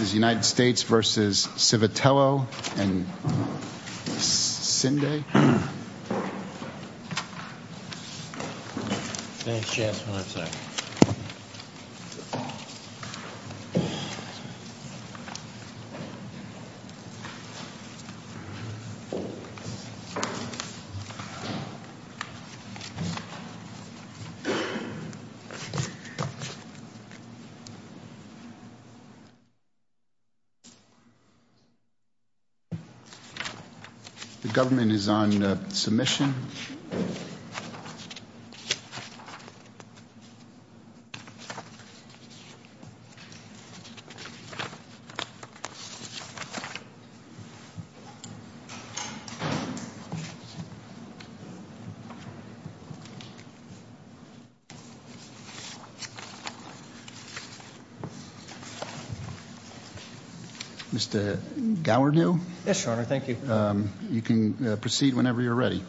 v. United States v. Civitello and Cinde. The government is on submission. Mr. Gowerdew? Yes, Your Honor. Thank you. You can proceed whenever you're ready.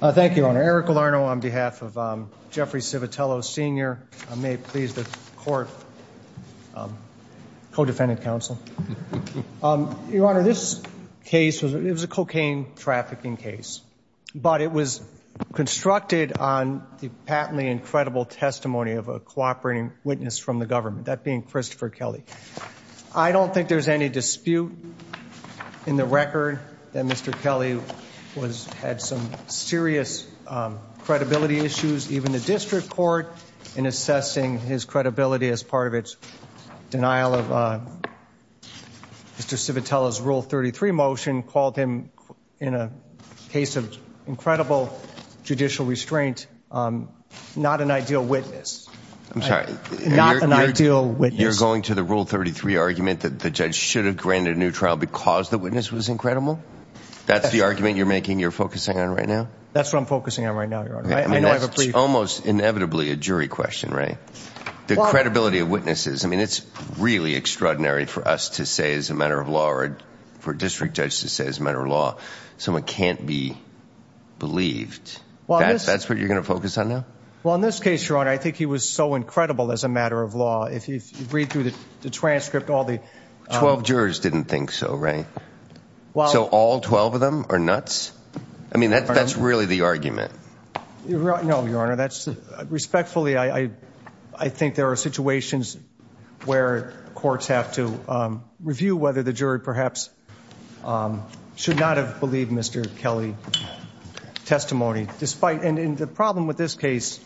Thank you, Your Honor. Eric Galarno on behalf of Jeffrey Civitello Sr. I may please the court co-defendant counsel. Your Honor, this case was a cocaine trafficking case, but it was constructed on the patently incredible testimony of a cooperating witness from the government, that being Christopher Kelly. I don't think there's any dispute in the record that Mr. Kelly had some serious credibility issues, even the district court in assessing his credibility as part of its denial of Mr. Civitello's Rule 33 motion called him, in a case of incredible judicial restraint, not an ideal witness. I'm sorry. Not an ideal witness. You're going to the Rule 33 argument that the judge should have granted a new trial because the witness was incredible? That's the argument you're making, you're focusing on right now? That's what I'm focusing on right now, Your Honor. I know I have a brief. That's almost inevitably a jury question, right? The credibility of witnesses, I mean, it's really extraordinary for us to say as a matter of law or for a district judge to say as a matter of law, someone can't be believed. That's what you're going to focus on now? Well, in this case, Your Honor, I think he was so incredible as a matter of law. If you read through the transcript, all the— Twelve jurors didn't think so, right? So all 12 of them are nuts? I mean, that's really the argument. No, Your Honor. Respectfully, I think there are situations where courts have to review whether the jury perhaps should not have believed Mr. Kelly's testimony. And the problem with this case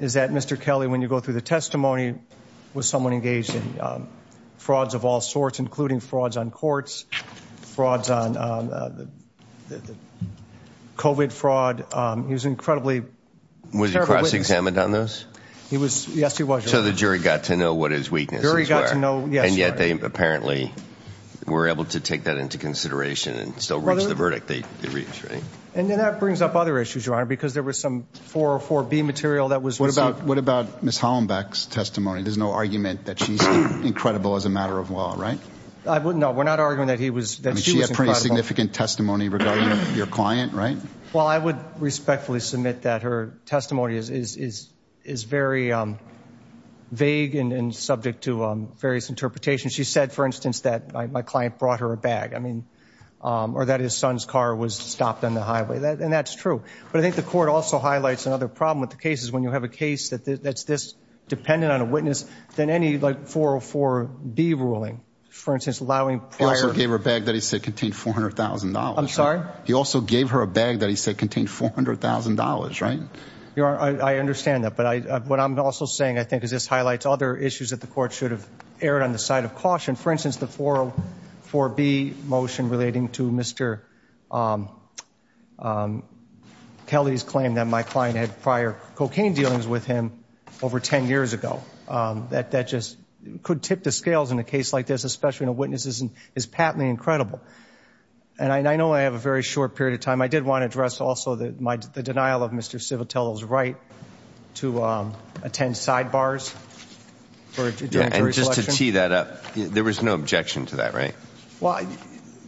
is that Mr. Kelly, when you go through the testimony, was someone engaged in frauds of all sorts, including frauds on courts, frauds on COVID fraud. He was an incredibly terrible witness. Was he cross-examined on those? Yes, he was, Your Honor. So the jury got to know what his weaknesses were. The jury got to know, yes, Your Honor. And yet they apparently were able to take that into consideration and still reach the verdict they reached, right? And then that brings up other issues, Your Honor, because there was some 404B material that was received— What about Ms. Hollenbeck's testimony? There's no argument that she's incredible as a matter of law, right? No, we're not arguing that she was incredible. I mean, she had pretty significant testimony regarding your client, right? Well, I would respectfully submit that her testimony is very vague and subject to various interpretations. She said, for instance, that my client brought her a bag. I mean, or that his son's car was stopped on the highway. And that's true. But I think the court also highlights another problem with the cases when you have a case that's this dependent on a witness than any, like, 404B ruling. For instance, allowing prior— He also gave her a bag that he said contained $400,000. I'm sorry? He also gave her a bag that he said contained $400,000, right? Your Honor, I understand that. But what I'm also saying, I think, is this highlights other issues that the court should have erred on the side of caution. For instance, the 404B motion relating to Mr. Kelly's claim that my client had prior cocaine dealings with him over 10 years ago. That just could tip the scales in a case like this, especially when a witness is patently incredible. And I know I have a very short period of time. I did want to address also the denial of Mr. Civitello's right to attend sidebars. And just to tee that up, there was no objection to that, right? Well,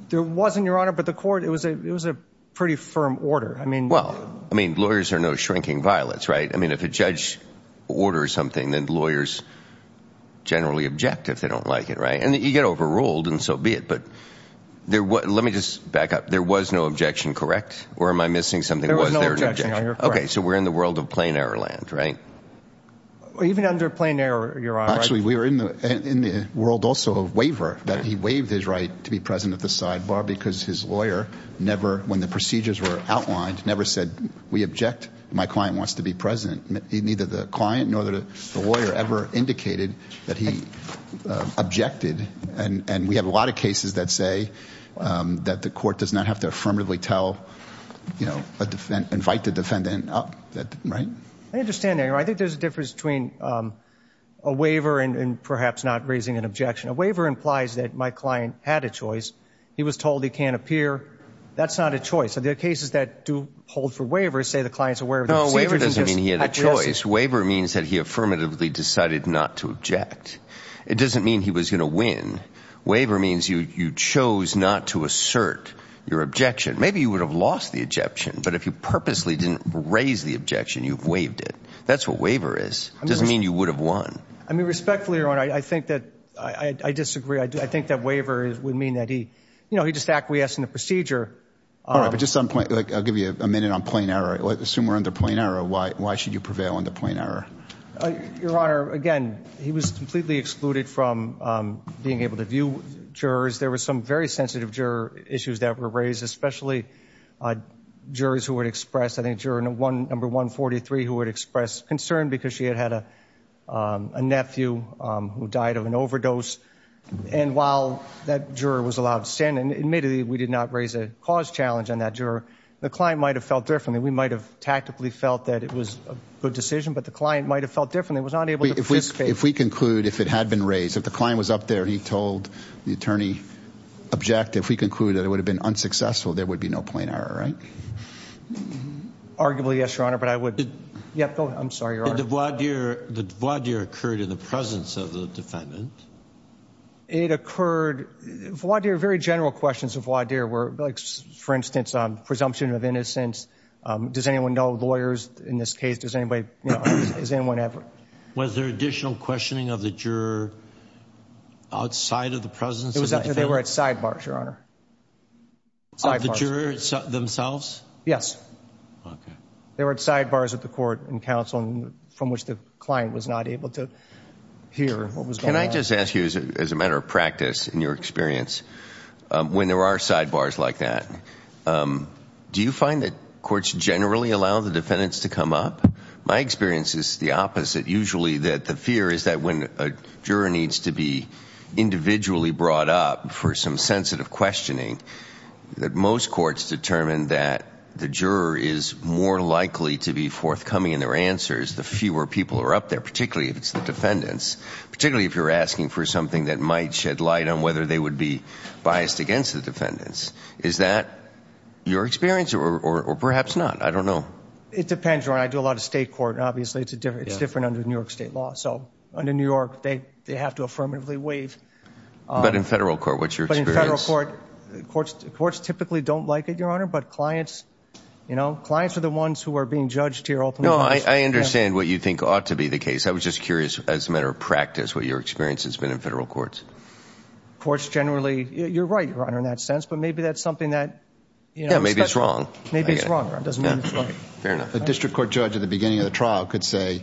there wasn't, Your Honor. But the court—it was a pretty firm order. Well, I mean, lawyers are no shrinking violets, right? I mean, if a judge orders something, then lawyers generally object if they don't like it, right? And you get overruled, and so be it. But let me just back up. There was no objection, correct? Or am I missing something? There was no objection, Your Honor. Okay. So we're in the world of plain-air land, right? Even under plain-air, Your Honor. Actually, we're in the world also of waiver, that he waived his right to be present at the sidebar because his lawyer never, when the procedures were outlined, never said, we object, my client wants to be present. Neither the client nor the lawyer ever indicated that he objected. And we have a lot of cases that say that the court does not have to affirmatively tell, you know, invite the defendant up, right? I understand that, Your Honor. I think there's a difference between a waiver and perhaps not raising an objection. A waiver implies that my client had a choice. He was told he can't appear. That's not a choice. So there are cases that do hold for waiver, say the client's aware of the procedure. No, waiver doesn't mean he had a choice. Waiver means that he affirmatively decided not to object. It doesn't mean he was going to win. Waiver means you chose not to assert your objection. Maybe you would have lost the objection, but if you purposely didn't raise the objection, you've waived it. That's what waiver is. It doesn't mean you would have won. I mean, respectfully, Your Honor, I think that I disagree. I think that waiver would mean that he, you know, he just acquiesced in the procedure. All right, but just on point, I'll give you a minute on plain error. Assume we're under plain error. Why should you prevail under plain error? Your Honor, again, he was completely excluded from being able to view jurors. There were some very sensitive juror issues that were raised, especially jurors who would express, I think, juror number 143 who would express concern because she had had a nephew who died of an overdose. And while that juror was allowed to stand, and admittedly we did not raise a cause challenge on that juror, the client might have felt differently. We might have tactically felt that it was a good decision, but the client might have felt differently, was not able to participate. If we conclude, if it had been raised, if the client was up there and he told the attorney, if we conclude that it would have been unsuccessful, there would be no plain error, right? Arguably, yes, Your Honor, but I would, yeah, go ahead. I'm sorry, Your Honor. The voir dire occurred in the presence of the defendant. It occurred, voir dire, very general questions of voir dire were, like, for instance, presumption of innocence. Does anyone know, lawyers in this case, does anybody, you know, does anyone have? Was there additional questioning of the juror outside of the presence of the defendant? They were at sidebars, Your Honor. Of the jurors themselves? Yes. Okay. They were at sidebars with the court and counsel, from which the client was not able to hear what was going on. Can I just ask you, as a matter of practice, in your experience, when there are sidebars like that, do you find that courts generally allow the defendants to come up? My experience is the opposite. Usually the fear is that when a juror needs to be individually brought up for some sensitive questioning, that most courts determine that the juror is more likely to be forthcoming in their answers, the fewer people are up there, particularly if it's the defendants, particularly if you're asking for something that might shed light on whether they would be biased against the defendants. Is that your experience or perhaps not? I don't know. It depends, Your Honor. I do a lot of state court. Obviously, it's different under New York state law. So under New York, they have to affirmatively waive. But in federal court, what's your experience? But in federal court, courts typically don't like it, Your Honor, but clients, you know, clients are the ones who are being judged here openly. No, I understand what you think ought to be the case. I was just curious, as a matter of practice, what your experience has been in federal courts. Courts generally, you're right, Your Honor, in that sense, but maybe that's something that, you know, Yeah, maybe it's wrong. Maybe it's wrong, Your Honor. It doesn't mean it's right. Fair enough. A district court judge at the beginning of the trial could say,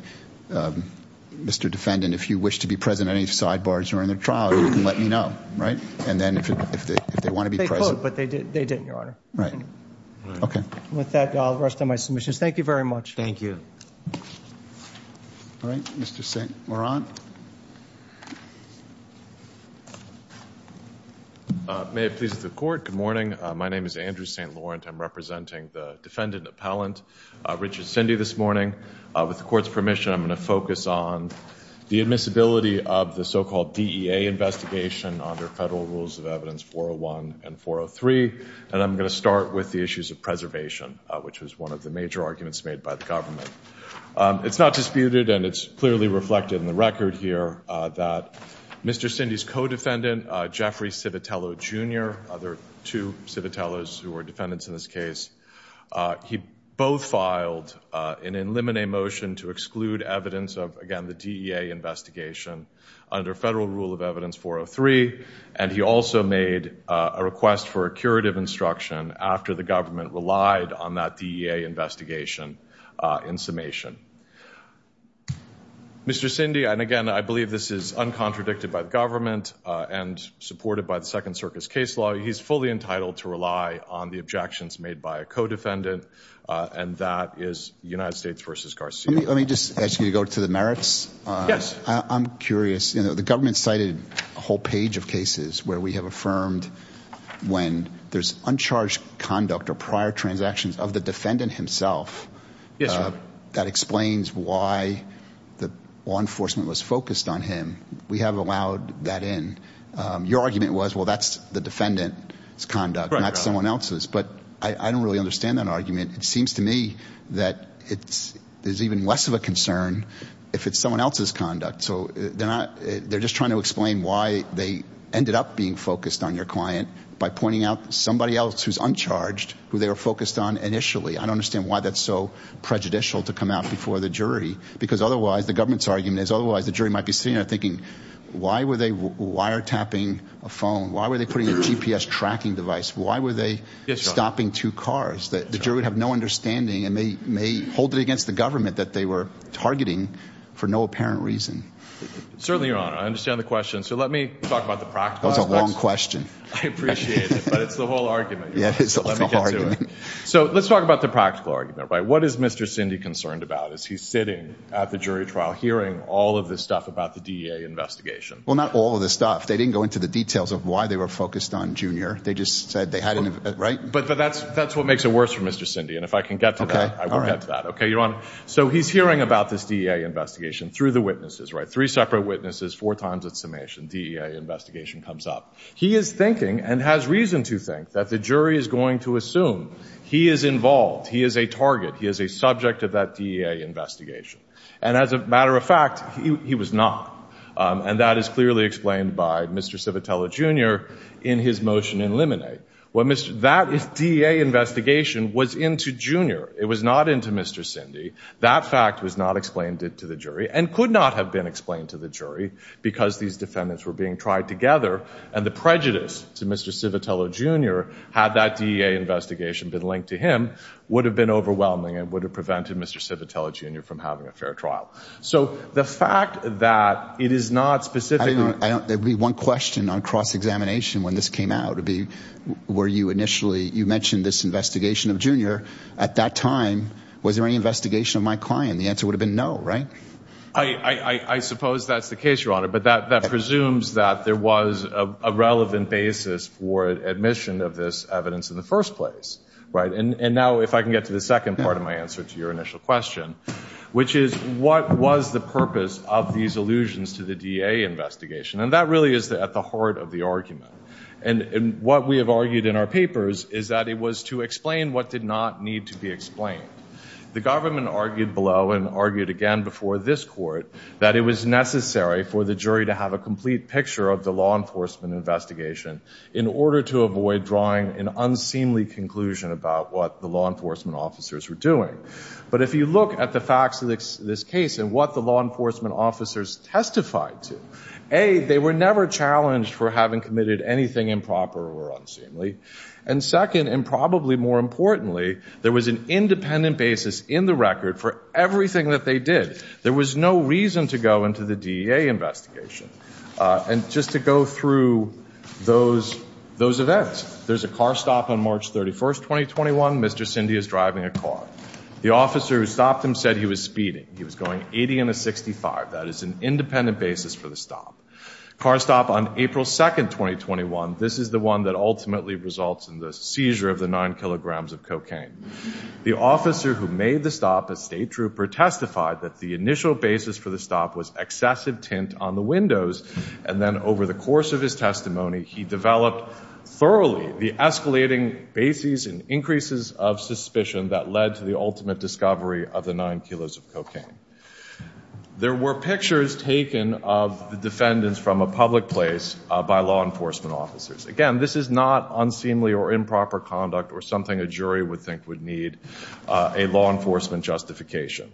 Mr. Defendant, if you wish to be present at any sidebars during the trial, you can let me know, right? And then if they want to be present. They could, but they didn't, Your Honor. Right. Okay. With that, I'll rest on my submissions. Thank you very much. Thank you. All right. Mr. St. Laurent. May it please the Court. Good morning. My name is Andrew St. Laurent. I'm representing the defendant appellant, Richard Cindy, this morning. With the Court's permission, I'm going to focus on the admissibility of the so-called DEA investigation under federal rules of evidence 401 and 403, and I'm going to start with the issues of preservation, which was one of the major arguments made by the government. It's not disputed, and it's clearly reflected in the record here, that Mr. Cindy's co-defendant, Jeffrey Civitello, Jr. There are two Civitellos who are defendants in this case. He both filed an in limine motion to exclude evidence of, again, the DEA investigation under federal rule of evidence 403, and he also made a request for a curative instruction after the government relied on that DEA investigation in summation. Mr. Cindy, and again, I believe this is uncontradicted by the government and supported by the Second Circus case law. He's fully entitled to rely on the objections made by a co-defendant, and that is United States v. Garcia. Let me just ask you to go to the merits. Yes. I'm curious. The government cited a whole page of cases where we have affirmed when there's uncharged conduct or prior transactions of the defendant himself. Yes, Your Honor. But that explains why the law enforcement was focused on him. We have allowed that in. Your argument was, well, that's the defendant's conduct, not someone else's. But I don't really understand that argument. It seems to me that there's even less of a concern if it's someone else's conduct. So they're just trying to explain why they ended up being focused on your client by pointing out somebody else who's uncharged who they were focused on initially. I don't understand why that's so prejudicial to come out before the jury because otherwise the government's argument is otherwise the jury might be sitting there thinking, why were they wiretapping a phone? Why were they putting a GPS tracking device? Why were they stopping two cars? The jury would have no understanding and may hold it against the government that they were targeting for no apparent reason. Certainly, Your Honor. I understand the question. So let me talk about the practical aspects. That was a long question. I appreciate it, but it's the whole argument. It is the whole argument. So let's talk about the practical argument. What is Mr. Cindy concerned about as he's sitting at the jury trial hearing all of this stuff about the DEA investigation? Well, not all of the stuff. They didn't go into the details of why they were focused on Junior. They just said they had an— But that's what makes it worse for Mr. Cindy, and if I can get to that, I will get to that. So he's hearing about this DEA investigation through the witnesses, three separate witnesses, four times its summation. DEA investigation comes up. He is thinking and has reason to think that the jury is going to assume he is involved, he is a target, he is a subject of that DEA investigation. And as a matter of fact, he was not. And that is clearly explained by Mr. Civitello, Jr. in his motion in limine. That DEA investigation was into Junior. It was not into Mr. Cindy. That fact was not explained to the jury and could not have been explained to the jury because these defendants were being tried together and the prejudice to Mr. Civitello, Jr., had that DEA investigation been linked to him, would have been overwhelming and would have prevented Mr. Civitello, Jr. from having a fair trial. So the fact that it is not specifically— There would be one question on cross-examination when this came out. It would be were you initially—you mentioned this investigation of Junior. At that time, was there any investigation of my client? The answer would have been no, right? I suppose that's the case, Your Honor. But that presumes that there was a relevant basis for admission of this evidence in the first place, right? And now if I can get to the second part of my answer to your initial question, which is what was the purpose of these allusions to the DEA investigation? And that really is at the heart of the argument. And what we have argued in our papers is that it was to explain what did not need to be explained. The government argued below and argued again before this court that it was necessary for the jury to have a complete picture of the law enforcement investigation in order to avoid drawing an unseemly conclusion about what the law enforcement officers were doing. But if you look at the facts of this case and what the law enforcement officers testified to, A, they were never challenged for having committed anything improper or unseemly. And second, and probably more importantly, there was an independent basis in the record for everything that they did. There was no reason to go into the DEA investigation. And just to go through those events, there's a car stop on March 31, 2021. Mr. Cindy is driving a car. The officer who stopped him said he was speeding. He was going 80 in a 65. That is an independent basis for the stop. Car stop on April 2, 2021. This is the one that ultimately results in the seizure of the nine kilograms of cocaine. The officer who made the stop, a state trooper, testified that the initial basis for the stop was excessive tint on the windows. And then over the course of his testimony, he developed thoroughly the escalating bases and increases of suspicion that led to the ultimate discovery of the nine kilos of cocaine. There were pictures taken of the defendants from a public place by law enforcement officers. Again, this is not unseemly or improper conduct or something a jury would think would need a law enforcement justification.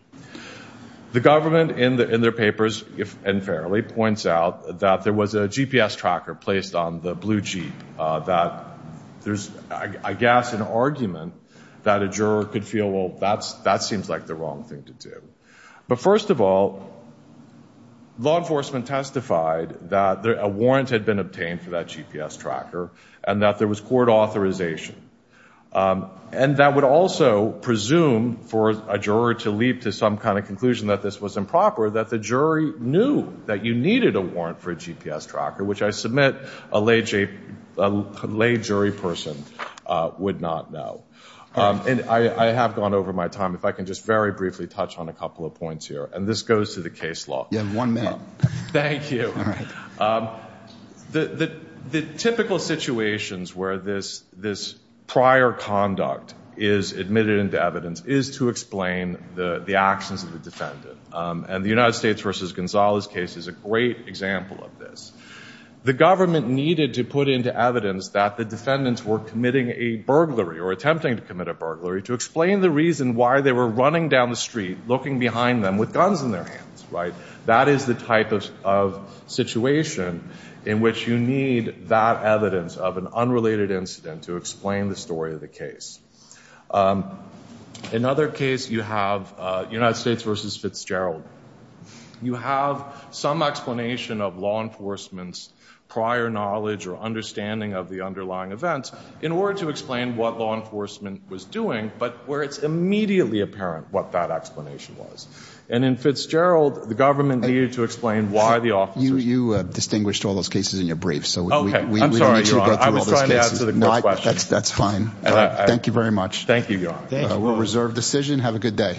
The government in their papers, if unfairly, points out that there was a GPS tracker placed on the blue Jeep, that there's, I guess, an argument that a juror could feel, well, that seems like the wrong thing to do. But first of all, law enforcement testified that a warrant had been obtained for that GPS tracker and that there was court authorization. And that would also presume for a juror to leap to some kind of conclusion that this was improper, or that the jury knew that you needed a warrant for a GPS tracker, which I submit a lay jury person would not know. And I have gone over my time. If I can just very briefly touch on a couple of points here, and this goes to the case law. Yeah, one minute. Thank you. The typical situations where this prior conduct is admitted into evidence is to explain the actions of the defendant. And the United States v. Gonzalez case is a great example of this. The government needed to put into evidence that the defendants were committing a burglary or attempting to commit a burglary to explain the reason why they were running down the street, looking behind them with guns in their hands, right? That is the type of situation in which you need that evidence of an unrelated incident to explain the story of the case. In another case, you have United States v. Fitzgerald. You have some explanation of law enforcement's prior knowledge or understanding of the underlying events in order to explain what law enforcement was doing, but where it's immediately apparent what that explanation was. And in Fitzgerald, the government needed to explain why the officers were doing it. You distinguished all those cases in your brief, so we don't need to go through all those cases. I'm sorry, Your Honor. I was trying to answer the question. That's fine. Thank you very much. Thank you, Your Honor. We'll reserve decision. Have a good day.